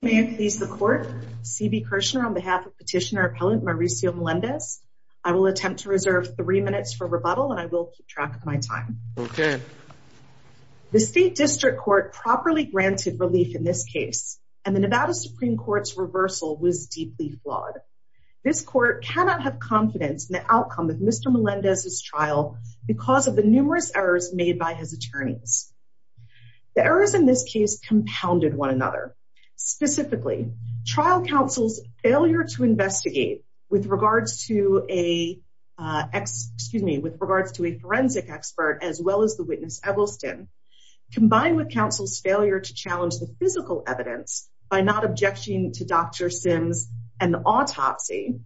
May I please the court CB Kirshner on behalf of petitioner appellant Mauricio Melendez. I will attempt to reserve three minutes for rebuttal and I will keep track of my time. Okay. The State District Court properly granted relief in this case and the Nevada Supreme Court's reversal was deeply flawed. This court cannot have confidence in the outcome of Mr. Melendez's trial because of the numerous errors made by his attorneys. The errors in this case compounded one another. Specifically, trial counsel's failure to investigate with regards to a forensic expert as well as the witness Eggleston, combined with counsel's failure to challenge the physical evidence by not objecting to Dr. Sims and the autopsy,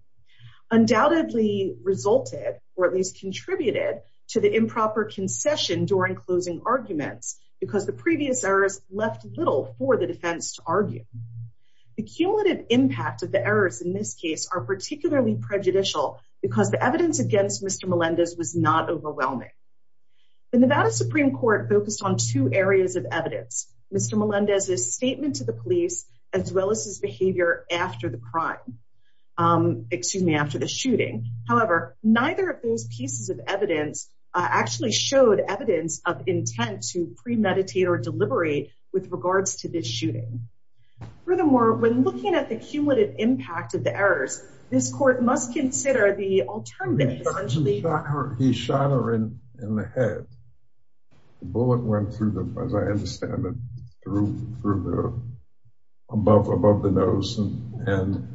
undoubtedly resulted or at least contributed to the improper concession during closing arguments because the previous errors left little for the defense to argue. The cumulative impact of the errors in this case are particularly prejudicial because the evidence against Mr. Melendez was not overwhelming. The Nevada Supreme Court focused on two areas of evidence, Mr. Melendez's statement to the police as well as his behavior after the crime, excuse me, after the shooting, however, neither of those pieces of evidence actually showed evidence of intent to premeditate or deliberate with regards to this shooting. Furthermore, when looking at the cumulative impact of the errors, this court must consider the alternative. He shot her in the head. The bullet went through the, as I understand it, above the nose and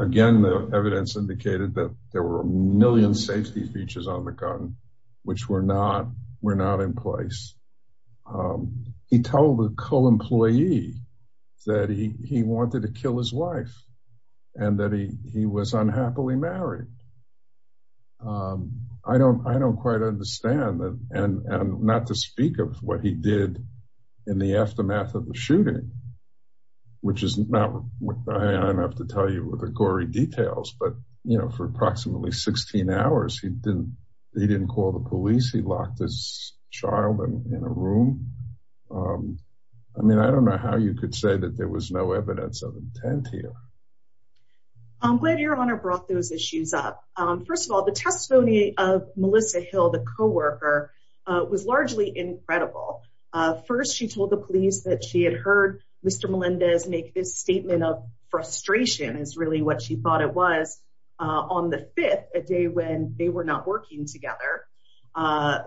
again, the evidence indicated that there were a million safety features on the gun, which were not in place. He told a co-employee that he wanted to kill his wife and that he was unhappily married. I don't quite understand and not to speak of what he did in the aftermath of the shooting, which is not what I have to tell you with the gory details, but, you know, for approximately 16 hours, he didn't call the police. He locked his child in a room. I mean, I don't know how you could say that there was no evidence of intent here. I'm glad your Honor brought those issues up. First of all, the testimony of Melissa Hill, the co-worker, was largely incredible. First, she told the police that she had heard Mr. Melendez make this statement of frustration, is really what she thought it was, on the fifth, a day when they were not working together.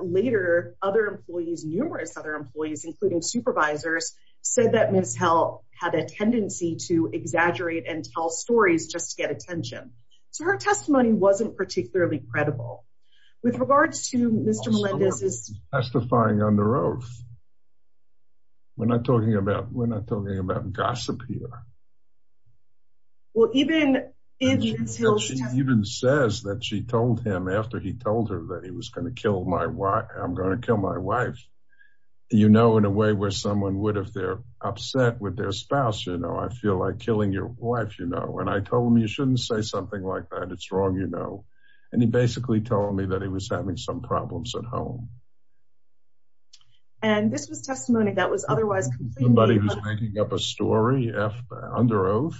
Later, other employees, numerous other employees, including supervisors, said that Ms. Hill had a tendency to exaggerate and tell stories just to get attention. So her testimony wasn't particularly credible. With regards to Mr. Melendez, He's testifying on the roof. We're not talking about gossip here. Well, even if Ms. Hill She even says that she told him after he told her that he was going to kill my wife, I'm going to kill my wife. You know, in a way where someone would if they're upset with their spouse, you know, I feel like killing your wife, you know, and I told him you shouldn't say something like that. You know, and he basically told me that he was having some problems at home. And this was testimony that was otherwise Making up a story under oath.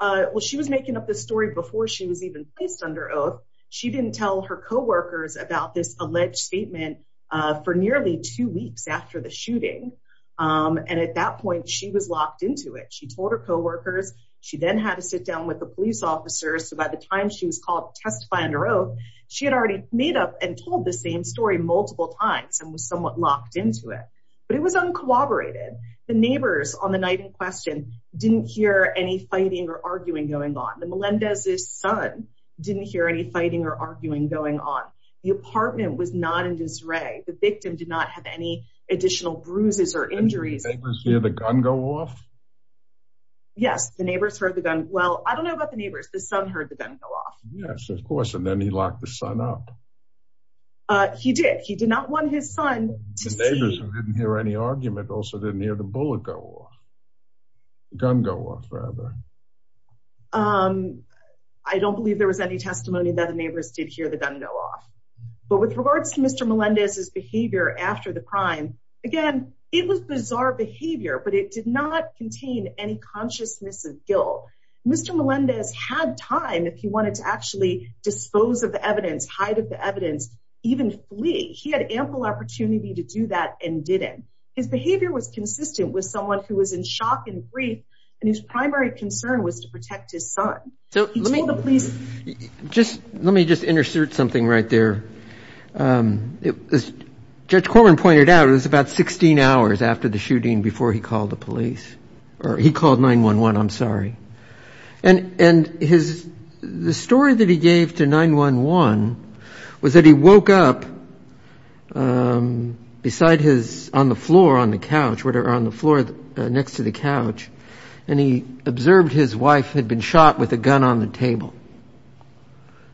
Well, she was making up this story before she was even placed under oath. She didn't tell her co workers about this alleged statement. For nearly two weeks after the shooting. And at that point, she was locked into it. She told her co workers. She then had to sit down with the police officers. So by the time she was called testify under oath. She had already made up and told the same story multiple times and was somewhat locked into it. But it was uncooperated. The neighbors on the night in question didn't hear any fighting or arguing going on. The Melendez's son didn't hear any fighting or arguing going on. The apartment was not in disarray. The victim did not have any additional bruises or injuries. The gun go off. Yes, the neighbors heard the gun. Well, I don't know about the neighbors. The son heard the gun go off. Yes, of course. And then he locked the son up. He did. He did not want his son to hear any argument also didn't hear the bullet go off. Gun go off rather I don't believe there was any testimony that the neighbors did hear the gun go off. But with regards to Mr. Melendez his behavior after the crime. Again, it was bizarre behavior, but it did not contain any consciousness of guilt. Mr. Melendez had time if he wanted to actually dispose of the evidence, hide of the evidence, even flee. He had ample opportunity to do that and didn't. His behavior was consistent with someone who was in shock and grief. And his primary concern was to protect his son. So let me just insert something right there. As Judge Corman pointed out, it was about 16 hours after the shooting before he called the police. Or he called 911. I'm sorry. And his the story that he gave to 911 was that he woke up beside his on the floor, on the couch, whatever, on the floor next to the couch. And he observed his wife had been shot with a gun on the table.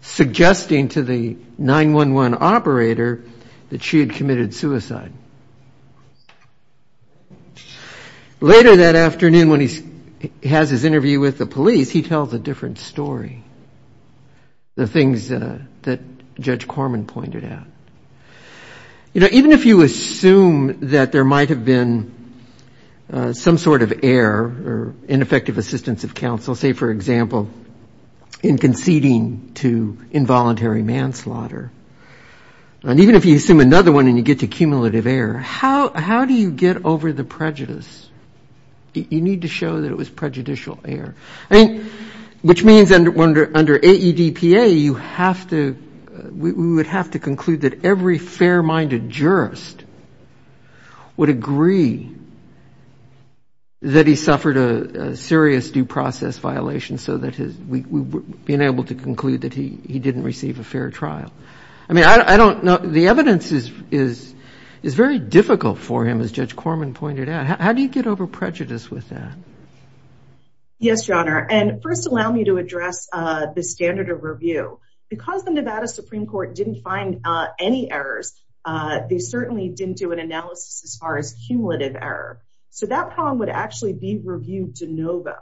Suggesting to the 911 operator that she had committed suicide. Later that afternoon, when he has his interview with the police, he tells a different story. The things that Judge Corman pointed out. You know, even if you assume that there might have been some sort of error or ineffective assistance of counsel, say, for example, in conceding to involuntary manslaughter. And even if you assume another one and you get to cumulative error, how do you get over the prejudice? You need to show that it was prejudicial error. I mean, which means under AEDPA, you have to, we would have to conclude that every fair-minded jurist would agree that he suffered a serious due process violation. So that we've been able to conclude that he didn't receive a fair trial. I mean, I don't know. The evidence is very difficult for him, as Judge Corman pointed out. How do you get over prejudice with that? Yes, Your Honor. And first, allow me to address the standard of review. Because the Nevada Supreme Court didn't find any errors, they certainly didn't do an analysis as far as cumulative error. So that problem would actually be reviewed de novo,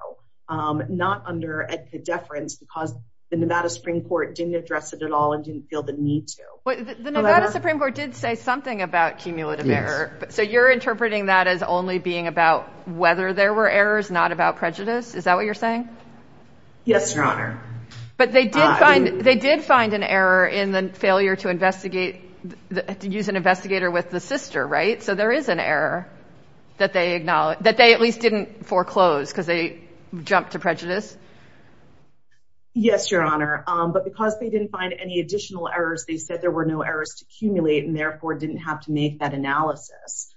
not under AEDPA deference, because the Nevada Supreme Court didn't address it at all and didn't feel the need to. But the Nevada Supreme Court did say something about cumulative error. So you're interpreting that as only being about whether there were errors, not about prejudice. Is that what you're saying? Yes, Your Honor. But they did find an error in the failure to use an investigator with the sister, right? So there is an error that they at least didn't foreclose because they jumped to prejudice. Yes, Your Honor. But because they didn't find any additional errors, they said there were no errors to accumulate and therefore didn't have to make that analysis.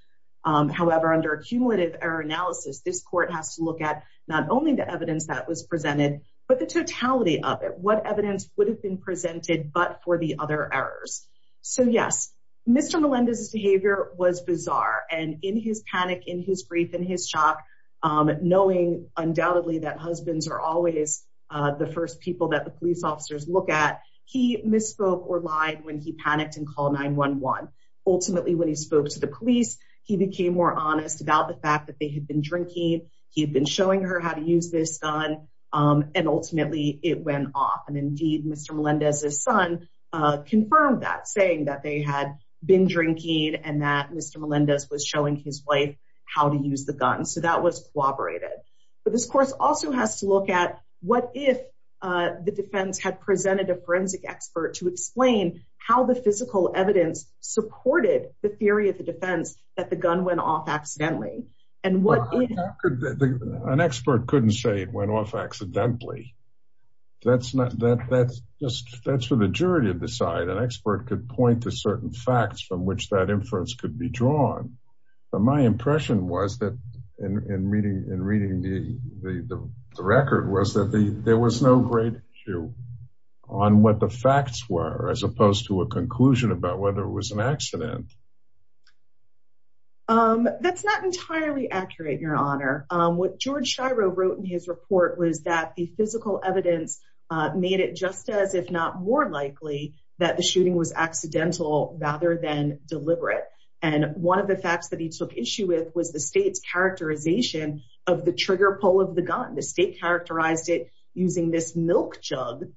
However, under a cumulative error analysis, this court has to look at not only the evidence that was presented, but the totality of it. What evidence would have been presented but for the other errors? So yes, Mr. Melendez's behavior was bizarre. And in his panic, in his grief, in his shock, knowing undoubtedly that husbands are always the first people that the police officers look at, he misspoke or lied when he panicked and called 911. Ultimately, when he spoke to the police, he became more honest about the fact that they had been drinking. He had been showing her how to use this gun. And ultimately, it went off. And indeed, Mr. Melendez's son confirmed that, saying that they had been drinking and that Mr. Melendez was showing his wife how to use the gun. So that was corroborated. But this course also has to look at what if the defense had presented a forensic expert to explain how the physical evidence supported the theory of the defense that the gun went off accidentally? Well, an expert couldn't say it went off accidentally. That's for the jury to decide. An expert could point to certain facts from which that inference could be drawn. But my impression was that in reading the record was that there was no great issue on what the facts were, as opposed to a conclusion about whether it was an accident. That's not entirely accurate, Your Honor. What George Shiro wrote in his report was that the physical evidence made it just as, if not more likely, that the shooting was accidental rather than deliberate. And one of the facts that he took issue with was the state's characterization of the trigger pull of the gun. The state characterized it using this milk jug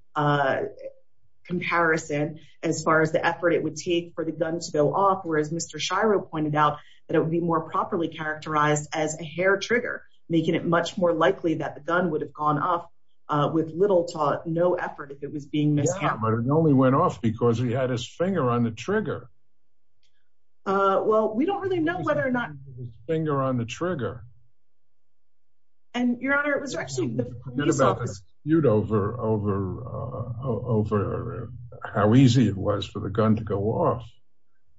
comparison as far as the effort it would take for the gun to go off whereas Mr. Shiro pointed out that it would be more properly characterized as a hair trigger, making it much more likely that the gun would have gone off with little to no effort if it was being miscounted. But it only went off because he had his finger on the trigger. Well, we don't really know whether or not... He had his finger on the trigger. And, Your Honor, it was actually... I forget about the dispute over how easy it was for the gun to go off,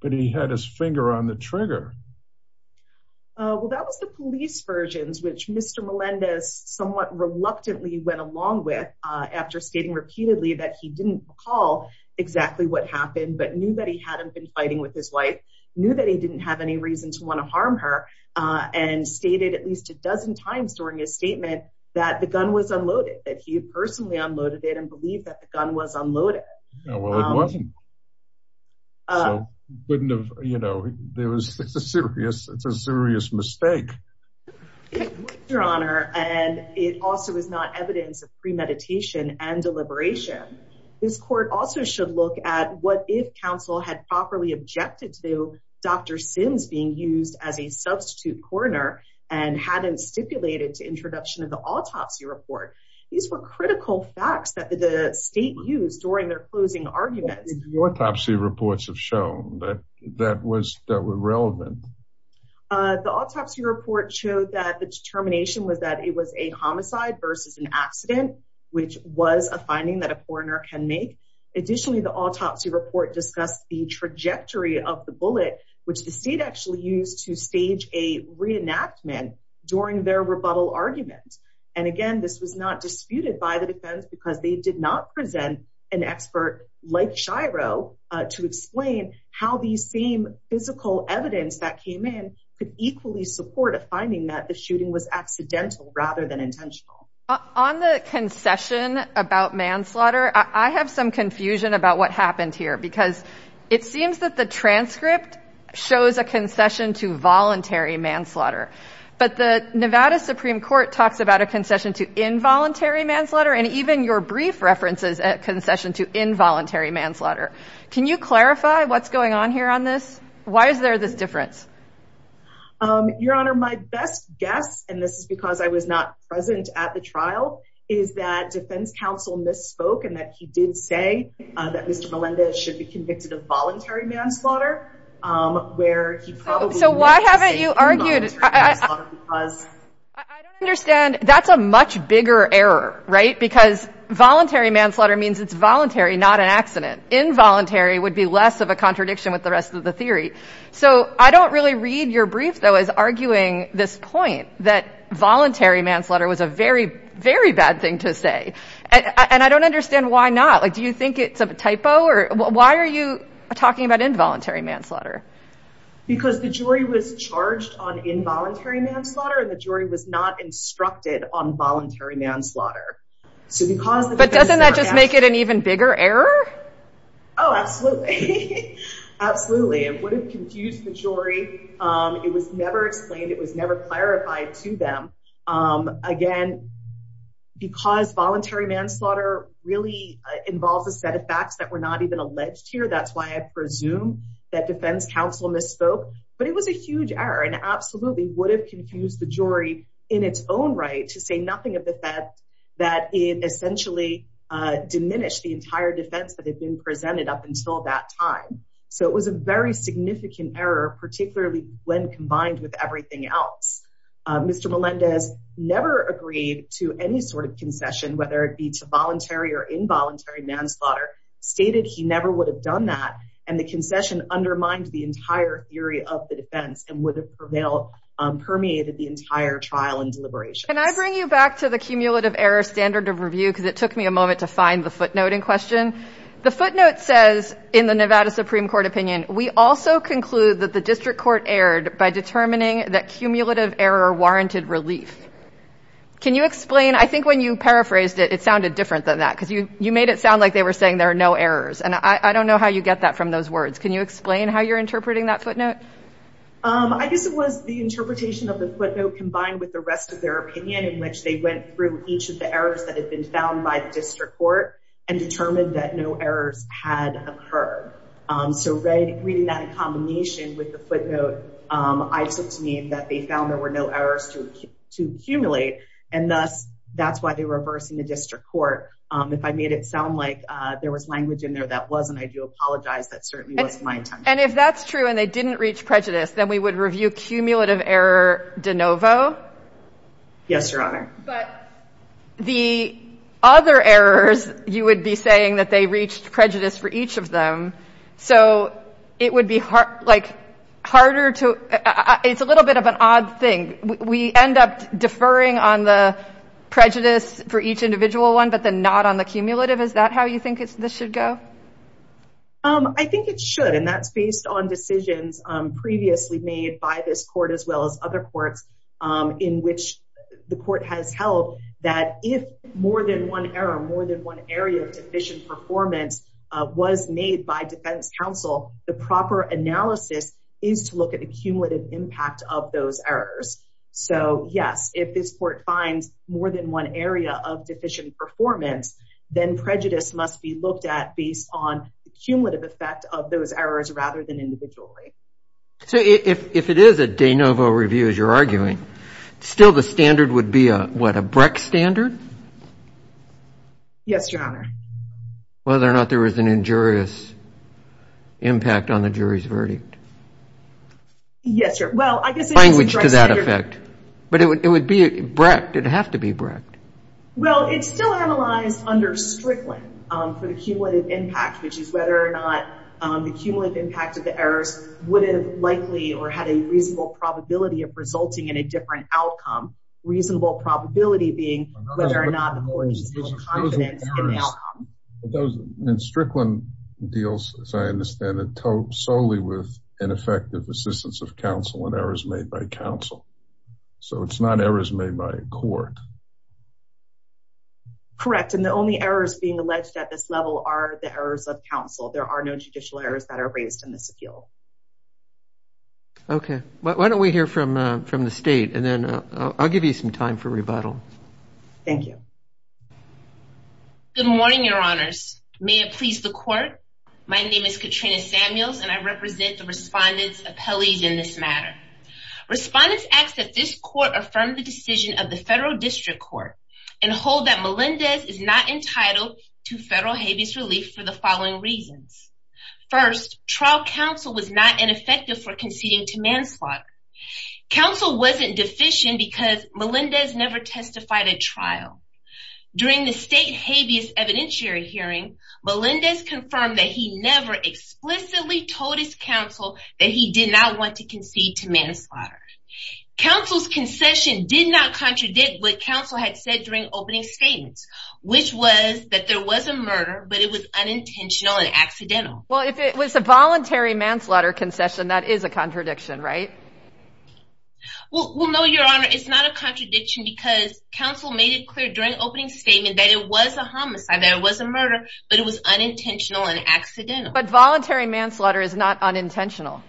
but he had his finger on the trigger. Well, that was the police versions which Mr. Melendez somewhat reluctantly went along with after stating repeatedly that he didn't recall exactly what happened but knew that he hadn't been fighting with his wife, knew that he didn't have any reason to want to harm her, and stated at least a dozen times during his statement that the gun was unloaded, that he personally unloaded it and believed that the gun was unloaded. Well, it wasn't. So it wouldn't have... There was a serious... It's a serious mistake. Your Honor, and it also is not evidence of premeditation and deliberation. This court also should look at what if counsel had properly objected to Dr. Sims being used as a substitute coroner and hadn't stipulated to introduction of the autopsy report. These were critical facts that the state used during their closing arguments. Autopsy reports have shown that that was relevant. The autopsy report showed that the determination was that it was a homicide versus an accident, which was a finding that a coroner can make. Additionally, the autopsy report discussed the trajectory of the bullet, which the state actually used to stage a reenactment during their rebuttal argument. And again, this was not disputed by the defense because they did not present an expert like Shiro to explain how these same physical evidence that came in could equally support a finding that the shooting was accidental rather than intentional. On the concession about manslaughter, I have some confusion about what happened here because it seems that the transcript shows a concession to voluntary manslaughter. But the Nevada Supreme Court talks about a concession to involuntary manslaughter and even your brief references at concession to involuntary manslaughter. Can you clarify what's going on here on this? Why is there this difference? Your Honor, my best guess, and this is because I was not present at the trial, is that defense counsel misspoke and that he did say that Mr. Melendez should be convicted of voluntary manslaughter. Where he probably... So why haven't you argued? I don't understand. That's a much bigger error, right? Because voluntary manslaughter means it's voluntary, not an accident. Involuntary would be less of a contradiction with the rest of the theory. So I don't really read your brief, though, as arguing this point that voluntary manslaughter was a very, very bad thing to say. And I don't understand why not. Like, do you think it's a typo? Why are you talking about involuntary manslaughter? Because the jury was charged on involuntary manslaughter and the jury was not instructed on voluntary manslaughter. But doesn't that just make it an even bigger error? Oh, absolutely. Absolutely. It would have confused the jury. It was never explained. It was never clarified to them. Again, because voluntary manslaughter really involves a set of facts that were not even alleged here. That's why I presume that defense counsel misspoke. But it was a huge error and absolutely would have confused the jury in its own right to say nothing of the fact that it essentially diminished the entire defense that had been presented up until that time. So it was a very significant error, particularly when combined with everything else. Mr. Melendez never agreed to any sort of concession, whether it be to voluntary or involuntary manslaughter. Stated he never would have done that. And the concession undermined the entire theory of the defense and would have permeated the entire trial and deliberations. Can I bring you back to the cumulative error standard of review? Because it took me a moment to find the footnote in question. The footnote says in the Nevada Supreme Court opinion, we also conclude that the district court erred by determining that cumulative error warranted relief. Can you explain? I think when you paraphrased it, it sounded different than that. You made it sound like they were saying there are no errors. And I don't know how you get that from those words. Can you explain how you're interpreting that footnote? I guess it was the interpretation of the footnote combined with the rest of their opinion in which they went through each of the errors that had been found by the district court and determined that no errors had occurred. So reading that in combination with the footnote, I took to mean that they found there were no errors to accumulate. And thus, that's why they reversed in the district court. If I made it sound like there was language in there that wasn't, I do apologize. That certainly wasn't my intention. And if that's true and they didn't reach prejudice, then we would review cumulative error de novo? Yes, Your Honor. But the other errors, you would be saying that they reached prejudice for each of them. So it would be harder to, it's a little bit of an odd thing. We end up deferring on the prejudice for each individual one, but then not on the cumulative. Is that how you think this should go? I think it should. And that's based on decisions previously made by this court, as well as other courts in which the court has held that if more than one error, more than one area of deficient performance was made by defense counsel, the proper analysis is to look at the cumulative impact of those errors. So yes, if this court finds more than one area of deficient performance, then prejudice must be looked at based on the cumulative effect of those errors rather than individually. So if it is a de novo review, as you're arguing, still the standard would be a, what, a Breck standard? Yes, Your Honor. Whether or not there was an injurious impact on the jury's verdict. Yes, Your Honor. Language to that effect. But it would be Breck. Did it have to be Breck? Well, it's still analyzed under Strickland for the cumulative impact, which is whether or not the cumulative impact of the errors would have likely or had a reasonable probability of resulting in a different outcome. Reasonable probability being whether or not the court used confidence in the outcome. And Strickland deals, as I understand it, solely with ineffective assistance of counsel and errors made by counsel. So it's not errors made by a court. Correct. And the only errors being alleged at this level are the errors of counsel. There are no judicial errors that are raised in this appeal. Okay. Why don't we hear from the state and then I'll give you some time for rebuttal. Thank you. Good morning, Your Honors. May it please the court. My name is Katrina Samuels, and I represent the respondent's appellees in this matter. Respondents ask that this court affirm the decision of the federal district court and hold that Melendez is not entitled to federal habeas relief for the following reasons. First, trial counsel was not ineffective for conceding to manslaughter. Counsel wasn't deficient because Melendez never testified at trial. During the state habeas evidentiary hearing, Melendez confirmed that he never explicitly told his counsel that he did not want to concede to manslaughter. Counsel's concession did not contradict what counsel had said during opening statements, which was that there was a murder, but it was unintentional and accidental. Well, if it was a voluntary manslaughter concession, that is a contradiction, right? Well, no, Your Honor. It's not a contradiction because counsel made it clear during opening statement that it was a homicide, that it was a murder, but it was unintentional and accidental. But voluntary manslaughter is not unintentional.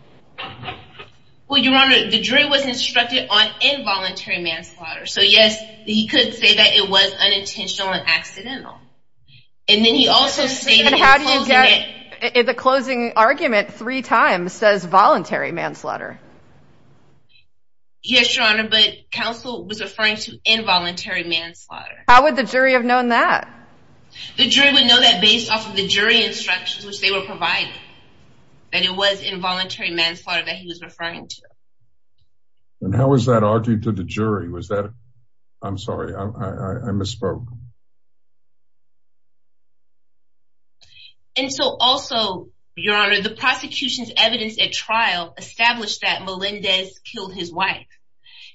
Well, Your Honor, the jury wasn't instructed on involuntary manslaughter. So, yes, he could say that it was unintentional and accidental. And then he also stated in the closing argument three times, says voluntary manslaughter. Yes, Your Honor, but counsel was referring to involuntary manslaughter. How would the jury have known that? The jury would know that based off of the jury instructions, which they were providing, that it was involuntary manslaughter that he was referring to. And how was that argued to the jury? I'm sorry, I misspoke. Establish that Melendez killed his wife.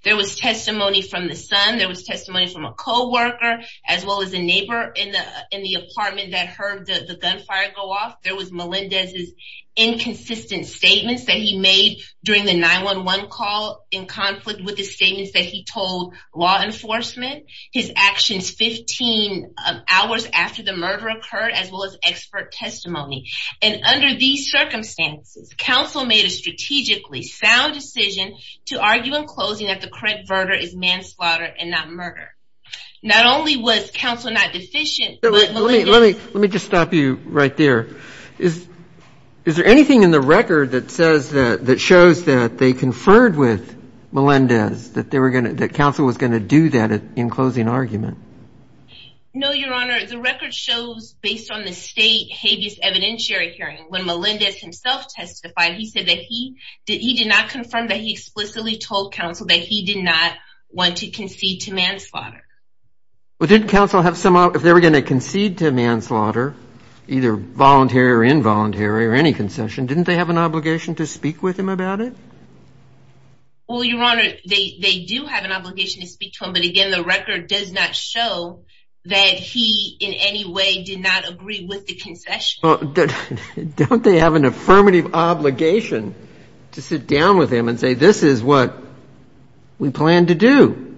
There was testimony from the son. There was testimony from a co-worker, as well as a neighbor in the apartment that heard the gunfire go off. There was Melendez's inconsistent statements that he made during the 911 call in conflict with the statements that he told law enforcement. His actions 15 hours after the murder occurred, as well as expert testimony. And under these circumstances, counsel made a strategically sound decision to argue in closing that the current murder is manslaughter and not murder. Not only was counsel not deficient, but Melendez... Let me just stop you right there. Is there anything in the record that shows that they conferred with Melendez, that counsel was going to do that in closing argument? No, Your Honor. The record shows, based on the state habeas evidentiary hearing, when Melendez himself testified, he said that he did not confirm that he explicitly told counsel that he did not want to concede to manslaughter. Well, didn't counsel have some... If they were going to concede to manslaughter, either voluntary or involuntary, or any concession, didn't they have an obligation to speak with him about it? Well, Your Honor, they do have an obligation to speak to him. But again, the record does not show that he in any way did not agree with the concession. Don't they have an affirmative obligation to sit down with him and say, this is what we plan to do?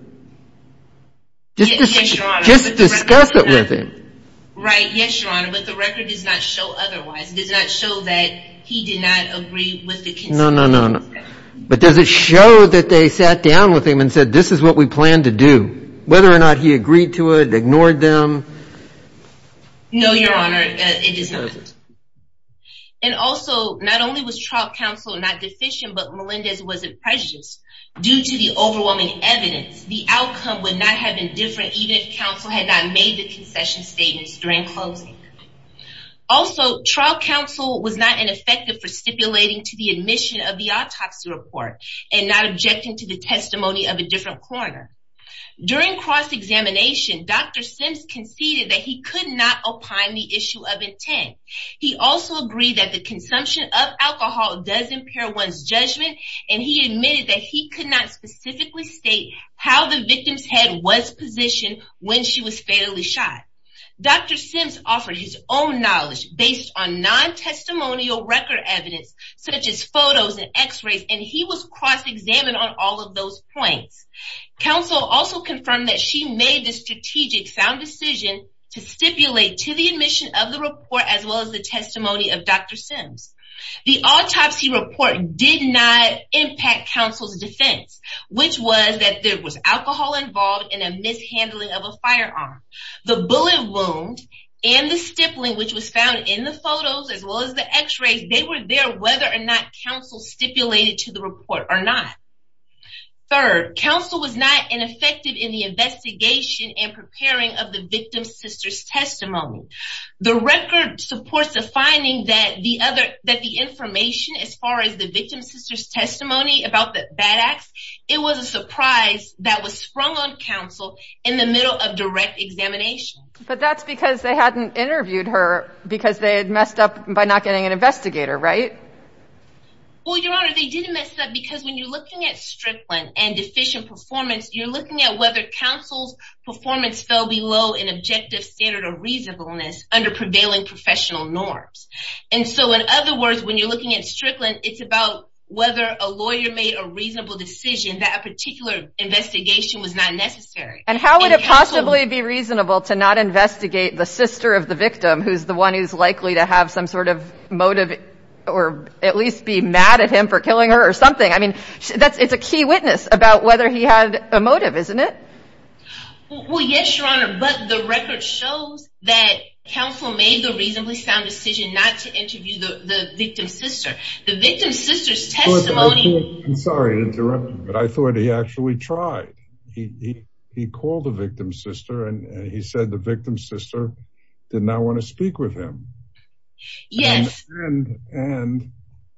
Yes, Your Honor. Just discuss it with him. Right. Yes, Your Honor. But the record does not show otherwise. It does not show that he did not agree with the concession. No, no, no, no. But does it show that they sat down with him and said, this is what we plan to do? Whether or not he agreed to it, ignored them? No, Your Honor, it does not. And also, not only was trial counsel not deficient, but Melendez wasn't prejudiced. Due to the overwhelming evidence, the outcome would not have been different even if counsel had not made the concession statements during closing. Also, trial counsel was not ineffective for stipulating to the admission of the autopsy report and not objecting to the testimony of a different coroner. During cross-examination, Dr. Sims conceded that he could not opine the issue of intent. He also agreed that the consumption of alcohol does impair one's judgment, and he admitted that he could not specifically state how the victim's head was positioned when she was fatally shot. Dr. Sims offered his own knowledge based on non-testimonial record evidence, such as photos and x-rays, and he was cross-examined on all of those points. Counsel also confirmed that she made the strategic sound decision to stipulate to the admission of the report as well as the testimony of Dr. Sims. The autopsy report did not impact counsel's defense, which was that there was alcohol involved in a mishandling of a firearm. The bullet wound and the stippling, which was found in the photos as well as the x-rays, they were there whether or not counsel stipulated to the report or not. Third, counsel was not ineffective in the investigation and preparing of the victim's sister's testimony. The record supports the finding that the information as far as the victim's sister's testimony about the bad acts, it was a surprise that was sprung on counsel in the middle of the correct examination. But that's because they hadn't interviewed her because they had messed up by not getting an investigator, right? Well, Your Honor, they didn't mess up because when you're looking at strickland and deficient performance, you're looking at whether counsel's performance fell below an objective standard of reasonableness under prevailing professional norms. And so in other words, when you're looking at strickland, it's about whether a lawyer made a reasonable decision that a particular investigation was not necessary. And how would it possibly be reasonable to not investigate the sister of the victim, who's the one who's likely to have some sort of motive or at least be mad at him for killing her or something? I mean, that's it's a key witness about whether he had a motive, isn't it? Well, yes, Your Honor, but the record shows that counsel made the reasonably sound decision not to interview the victim's sister. The victim's sister's testimony... I'm sorry to interrupt you, but I thought he actually tried. He called the victim's sister and he said the victim's sister did not want to speak with him. Yes. And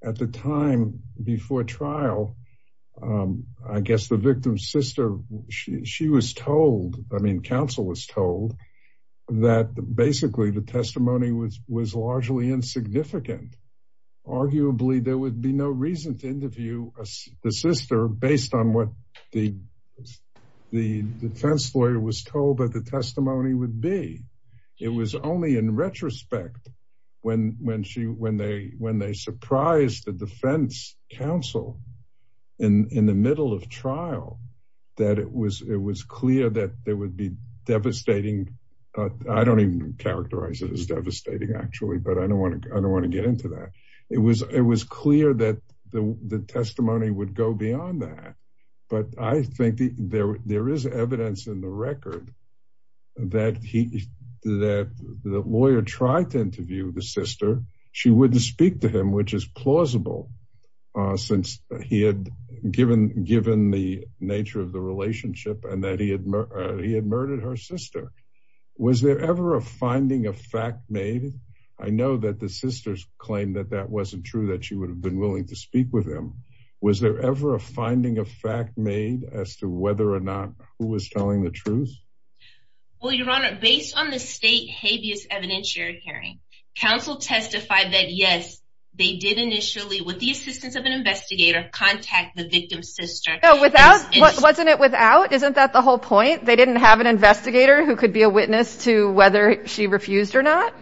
at the time before trial, I guess the victim's sister, she was told, I mean, counsel was told that basically the testimony was largely insignificant. Arguably, there would be no reason to interview the sister based on what the defense lawyer was told that the testimony would be. It was only in retrospect when they surprised the defense counsel in the middle of trial, that it was clear that there would be devastating... I don't even characterize it as devastating, actually, but I don't want to get into that. It was clear that the testimony would go beyond that. But I think there is evidence in the record that the lawyer tried to interview the sister. She wouldn't speak to him, which is plausible, since he had given the nature of the relationship and that he had murdered her sister. Was there ever a finding of fact made? I know that the sisters claimed that that wasn't true, that she would have been willing to speak with him. Was there ever a finding of fact made as to whether or not who was telling the truth? Well, Your Honor, based on the state habeas evidentiary hearing, counsel testified that yes, they did initially, with the assistance of an investigator, contact the victim's sister. Wasn't it without? Isn't that the whole point? They didn't have an investigator who could be a witness to whether she refused or not?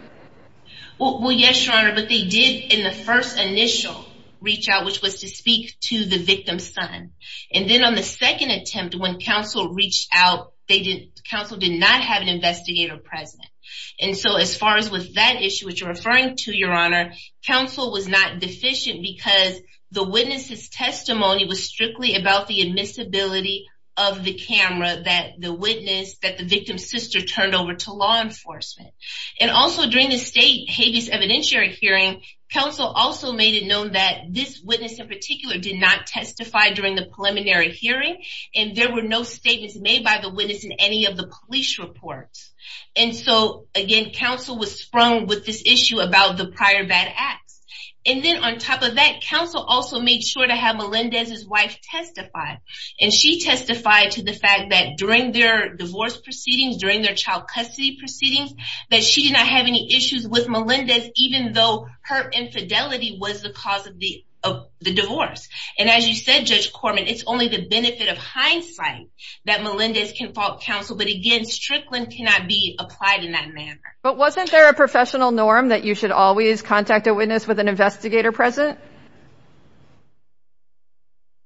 Well, yes, Your Honor, but they did in the first initial reach out, which was to speak to the victim's son. And then on the second attempt, when counsel reached out, they did. Counsel did not have an investigator present. And so as far as with that issue, which you're referring to, Your Honor, counsel was not deficient because the witness's testimony was strictly about the admissibility of the camera that the witness that the victim's sister turned over to law enforcement. And also during the state habeas evidentiary hearing, counsel also made it known that this witness in particular did not testify during the preliminary hearing. And there were no statements made by the witness in any of the police reports. And so, again, counsel was sprung with this issue about the prior bad acts. And then on top of that, counsel also made sure to have Melendez's wife testify. And she testified to the fact that during their divorce proceedings, during their child custody proceedings, that she did not have any issues with Melendez, even though her infidelity was the cause of the divorce. And as you said, Judge Corman, it's only the benefit of hindsight that Melendez can fault counsel. But again, Strickland cannot be applied in that manner. But wasn't there a professional norm that you should always contact a witness with an investigator present?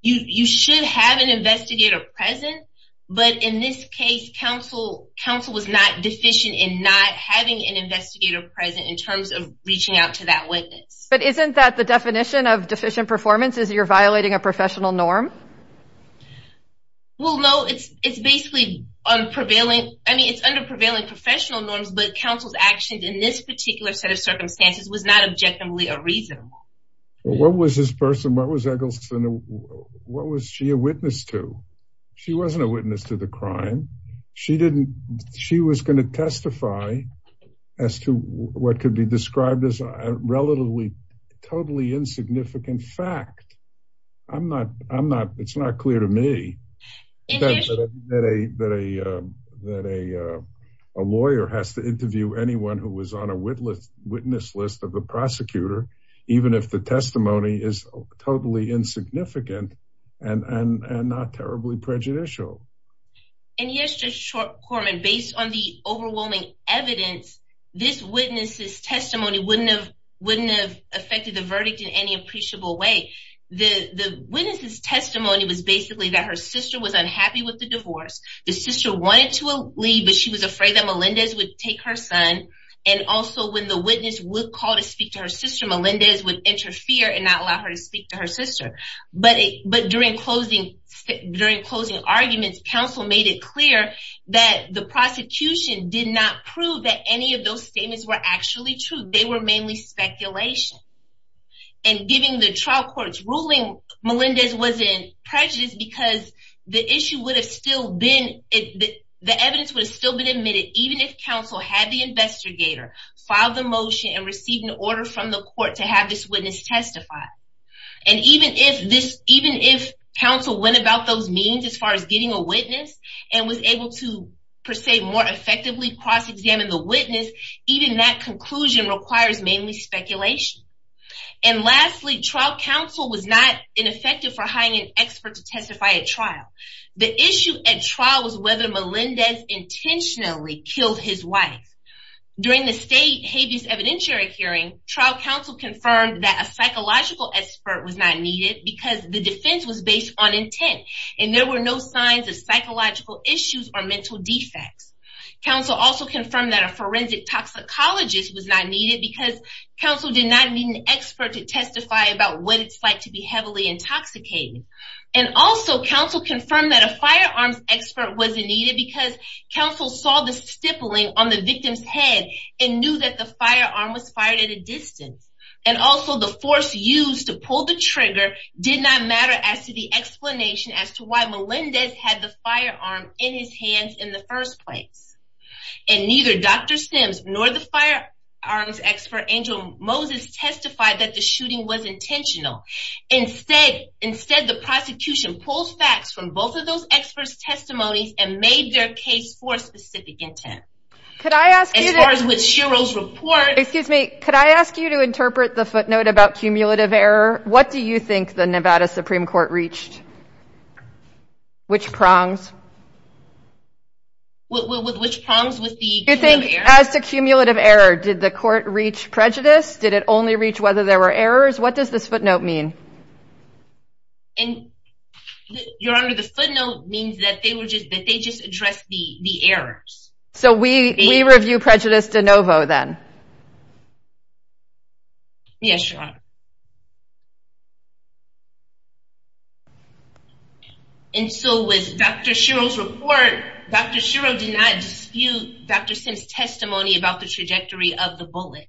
You should have an investigator present. But in this case, counsel, counsel was not deficient in not having an investigator present in terms of reaching out to that witness. But isn't that the definition of deficient performance is you're violating a professional norm? Well, no, it's it's basically on prevailing. I mean, it's under prevailing professional norms. But counsel's actions in this particular set of circumstances was not objectively a reason. What was this person? What was Eggleston? What was she a witness to? She wasn't a witness to the crime. She didn't she was going to testify as to what could be described as a relatively totally insignificant fact. I'm not I'm not it's not clear to me that a that a that a lawyer has to interview anyone who was on a witness witness list of the prosecutor, even if the testimony is totally insignificant and not terribly prejudicial. And here's just a short comment. Based on the overwhelming evidence, this witness's testimony wouldn't have wouldn't have affected the verdict in any appreciable way. The witness's testimony was basically that her sister was unhappy with the divorce. The sister wanted to leave, but she was afraid that Melendez would take her son. And also when the witness would call to speak to her sister, Melendez would interfere and not allow her to speak to her sister. But but during closing, during closing arguments, counsel made it clear that the prosecution did not prove that any of those statements were actually true. They were mainly speculation. And given the trial court's ruling, Melendez was in prejudice because the issue would have still been the evidence would have still been admitted, even if counsel had the investigator filed the motion and received an order from the court to have this witness testify. And even if this even if counsel went about those meetings as far as getting a witness and was able to, per se, more effectively cross examine the witness, even that conclusion requires mainly speculation. And lastly, trial counsel was not ineffective for hiring an expert to testify at trial. The issue at trial was whether Melendez intentionally killed his wife during the state habeas evidentiary hearing. Trial counsel confirmed that a psychological expert was not needed because the defense was based on intent and there were no signs of psychological issues or mental defects. Counsel also confirmed that a forensic toxicologist was not needed because counsel did not need an expert to testify about what it's like to be heavily intoxicated. And also counsel confirmed that a firearms expert wasn't needed because counsel saw the firearm was fired at a distance. And also the force used to pull the trigger did not matter as to the explanation as to why Melendez had the firearm in his hands in the first place. And neither Dr. Sims nor the firearms expert Angel Moses testified that the shooting was intentional. Instead, instead, the prosecution pulls facts from both of those experts testimonies and made their case for specific intent. Could I ask as far as with Shiro's report, excuse me, could I ask you to interpret the footnote about cumulative error? What do you think the Nevada Supreme Court reached? Which prongs? With which prongs with the you think as to cumulative error, did the court reach prejudice? Did it only reach whether there were errors? What does this footnote mean? And your under the footnote means that they were just that they just addressed the the errors. So we review prejudice de novo then. Yes, sure. And so with Dr. Shiro's report, Dr. Shiro did not dispute Dr. Sims testimony about the trajectory of the bullet.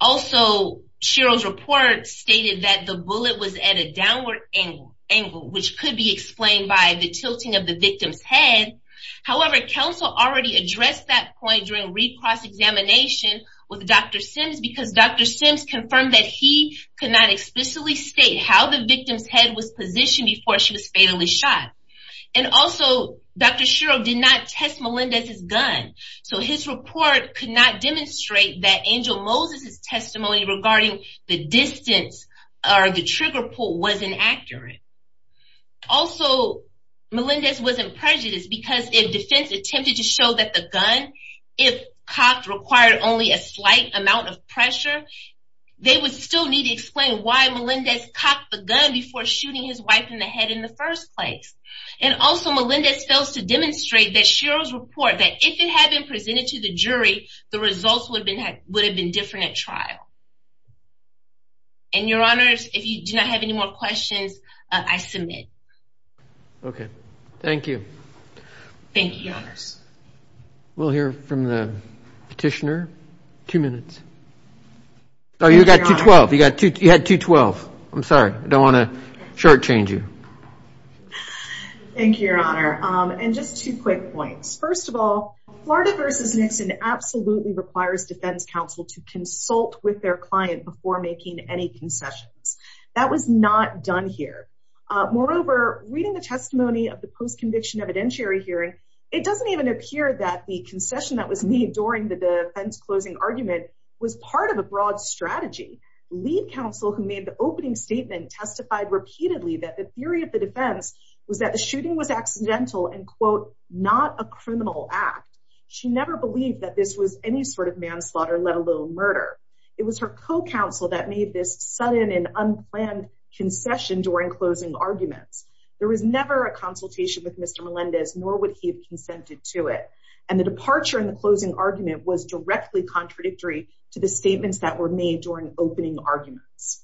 Also, Shiro's report stated that the bullet was at a downward angle angle, which could be explained by the tilting of the victim's head. However, counsel already addressed that point during recross examination with Dr. Sims, because Dr. Sims confirmed that he could not explicitly state how the victim's head was positioned before she was fatally shot. And also, Dr. Shiro did not test Melendez's gun. So his report could not demonstrate that Angel Moses's testimony regarding the distance or the trigger pull was inaccurate. Also, Melendez wasn't prejudiced because if defense attempted to show that the gun if cocked required only a slight amount of pressure, they would still need to explain why Melendez cocked the gun before shooting his wife in the head in the first place. And also, Melendez fails to demonstrate that Shiro's report that if it had been presented to the jury, the results would have been different at trial. And your honors, if you do not have any more questions, I submit. Okay, thank you. Thank you, your honors. We'll hear from the petitioner. Two minutes. Oh, you got to 12. You got to you had to 12. I'm sorry. I don't want to shortchange you. Thank you, your honor. First of all, Florida versus Nixon absolutely requires defense counsel to consult with the client before making any concessions. That was not done here. Moreover, reading the testimony of the post-conviction evidentiary hearing, it doesn't even appear that the concession that was made during the defense closing argument was part of a broad strategy. Lead counsel who made the opening statement testified repeatedly that the theory of the defense was that the shooting was accidental and quote, not a criminal act. She never believed that this was any sort of manslaughter, let alone murder. It was her co-counsel that made this sudden and unplanned concession during closing arguments. There was never a consultation with Mr. Melendez, nor would he have consented to it. And the departure in the closing argument was directly contradictory to the statements that were made during opening arguments.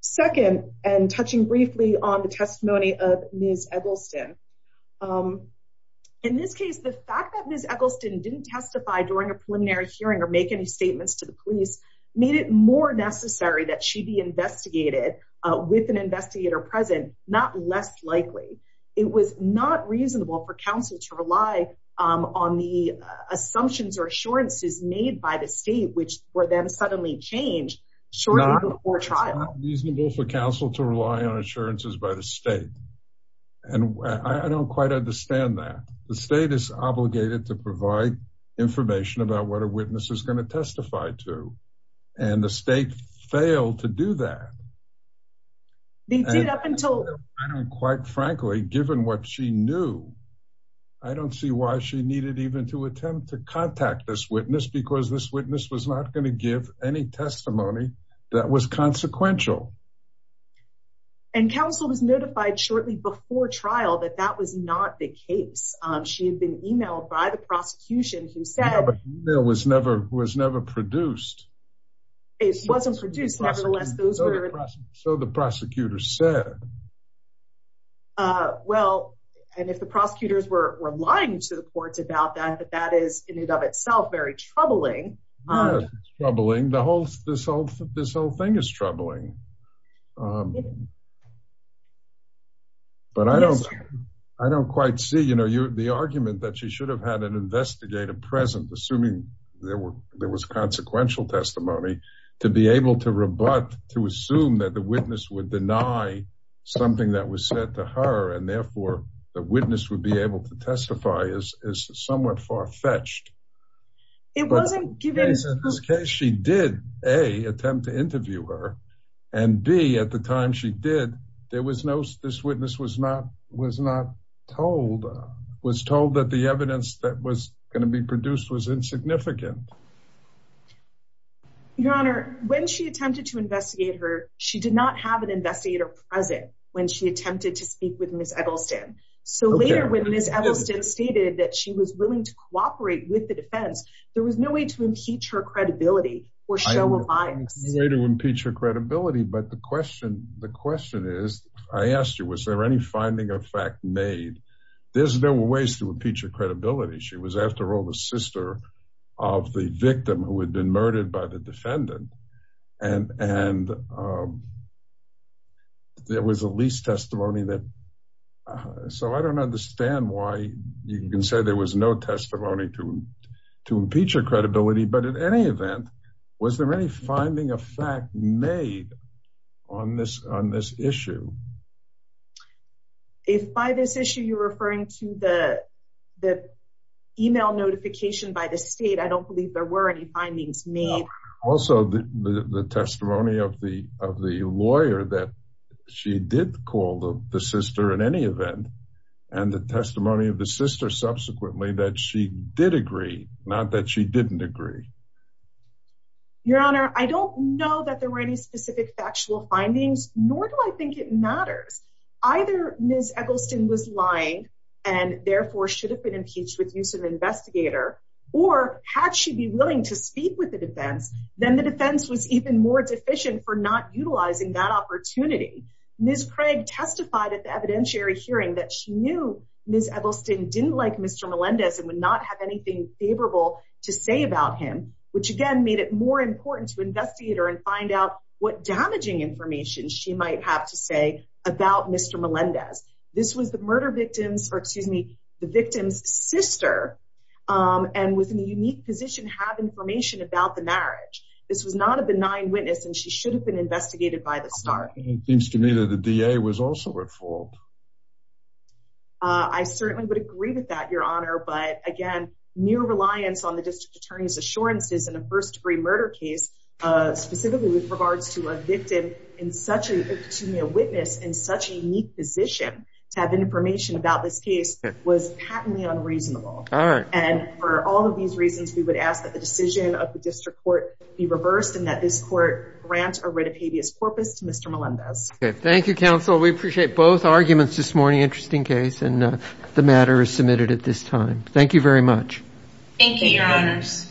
Second, and touching briefly on the testimony of Ms. Eggleston. In this case, the fact that Ms. Eggleston didn't testify during a preliminary hearing or make any statements to the police made it more necessary that she be investigated with an investigator present, not less likely. It was not reasonable for counsel to rely on the assumptions or assurances made by the state, which were then suddenly changed shortly before trial. It's not reasonable for counsel to rely on assurances by the state. And I don't quite understand that. The state is obligated to provide information about what a witness is going to testify to. And the state failed to do that. Quite frankly, given what she knew, I don't see why she needed even to attempt to contact this witness because this witness was not going to give any testimony that was consequential. And counsel was notified shortly before trial that that was not the case. She had been emailed by the prosecution who said There was never was never produced. It wasn't produced. Nevertheless, those were So the prosecutor said. Well, and if the prosecutors were lying to the courts about that, that that is in and of itself very troubling. Troubling the whole this whole this whole thing is troubling. But I don't, I don't quite see, you know, the argument that she should have had an investigative present assuming there were there was consequential testimony to be able to rebut to assume that the witness would deny something that was said to her and therefore the witness would be able to testify is somewhat far fetched. It wasn't given In this case, she did a attempt to interview her and be at the time she did. There was no this witness was not was not told was told that the evidence that was going to be produced was insignificant. Your Honor, when she attempted to investigate her. She did not have an investigator present when she attempted to speak with Miss Edelstein. So later when Miss Edelstein stated that she was willing to cooperate with the defense. There was no way to impeach her credibility. Or show of eyes. Way to impeach her credibility. But the question. The question is, I asked you, was there any finding of fact made. There's no ways to impeach her credibility. She was after all the sister of the victim who had been murdered by the defendant and and There was at least testimony that So I don't understand why you can say there was no testimony to to impeach her credibility. But in any event, was there any finding of fact made on this on this issue. If by this issue you're referring to the The email notification by the state. I don't believe there were any findings made. Also, the testimony of the of the lawyer that she did call the sister in any event. And the testimony of the sister subsequently that she did agree, not that she didn't agree. Your Honor, I don't know that there were any specific factual findings, nor do I think it matters. Either Miss Edelstein was lying and therefore should have been impeached with use of investigator. Or had she be willing to speak with the defense, then the defense was even more deficient for not utilizing that opportunity. Miss Craig testified at the evidentiary hearing that she knew Miss Edelstein didn't like Mr. Melendez and would not have anything favorable to say about him, which again made it more important to investigator and find out what damaging information, she might have to say about Mr. Melendez. This was the murder victims or excuse me, the victim's sister. And was in a unique position have information about the marriage. This was not a benign witness and she should have been investigated by the start. And it seems to me that the DA was also at fault. I certainly would agree with that, Your Honor. But again, new reliance on the district attorney's assurances in a first degree murder case, specifically with regards to a victim in such a witness in such a unique position to have information about this case was patently unreasonable. And for all of these reasons, we would ask that the decision of the district court be reversed and that this court grant a writ of habeas corpus to Mr. Melendez. Thank you, counsel. We appreciate both arguments this morning. Interesting case and the matter is submitted at this time. Thank you, Your Honors.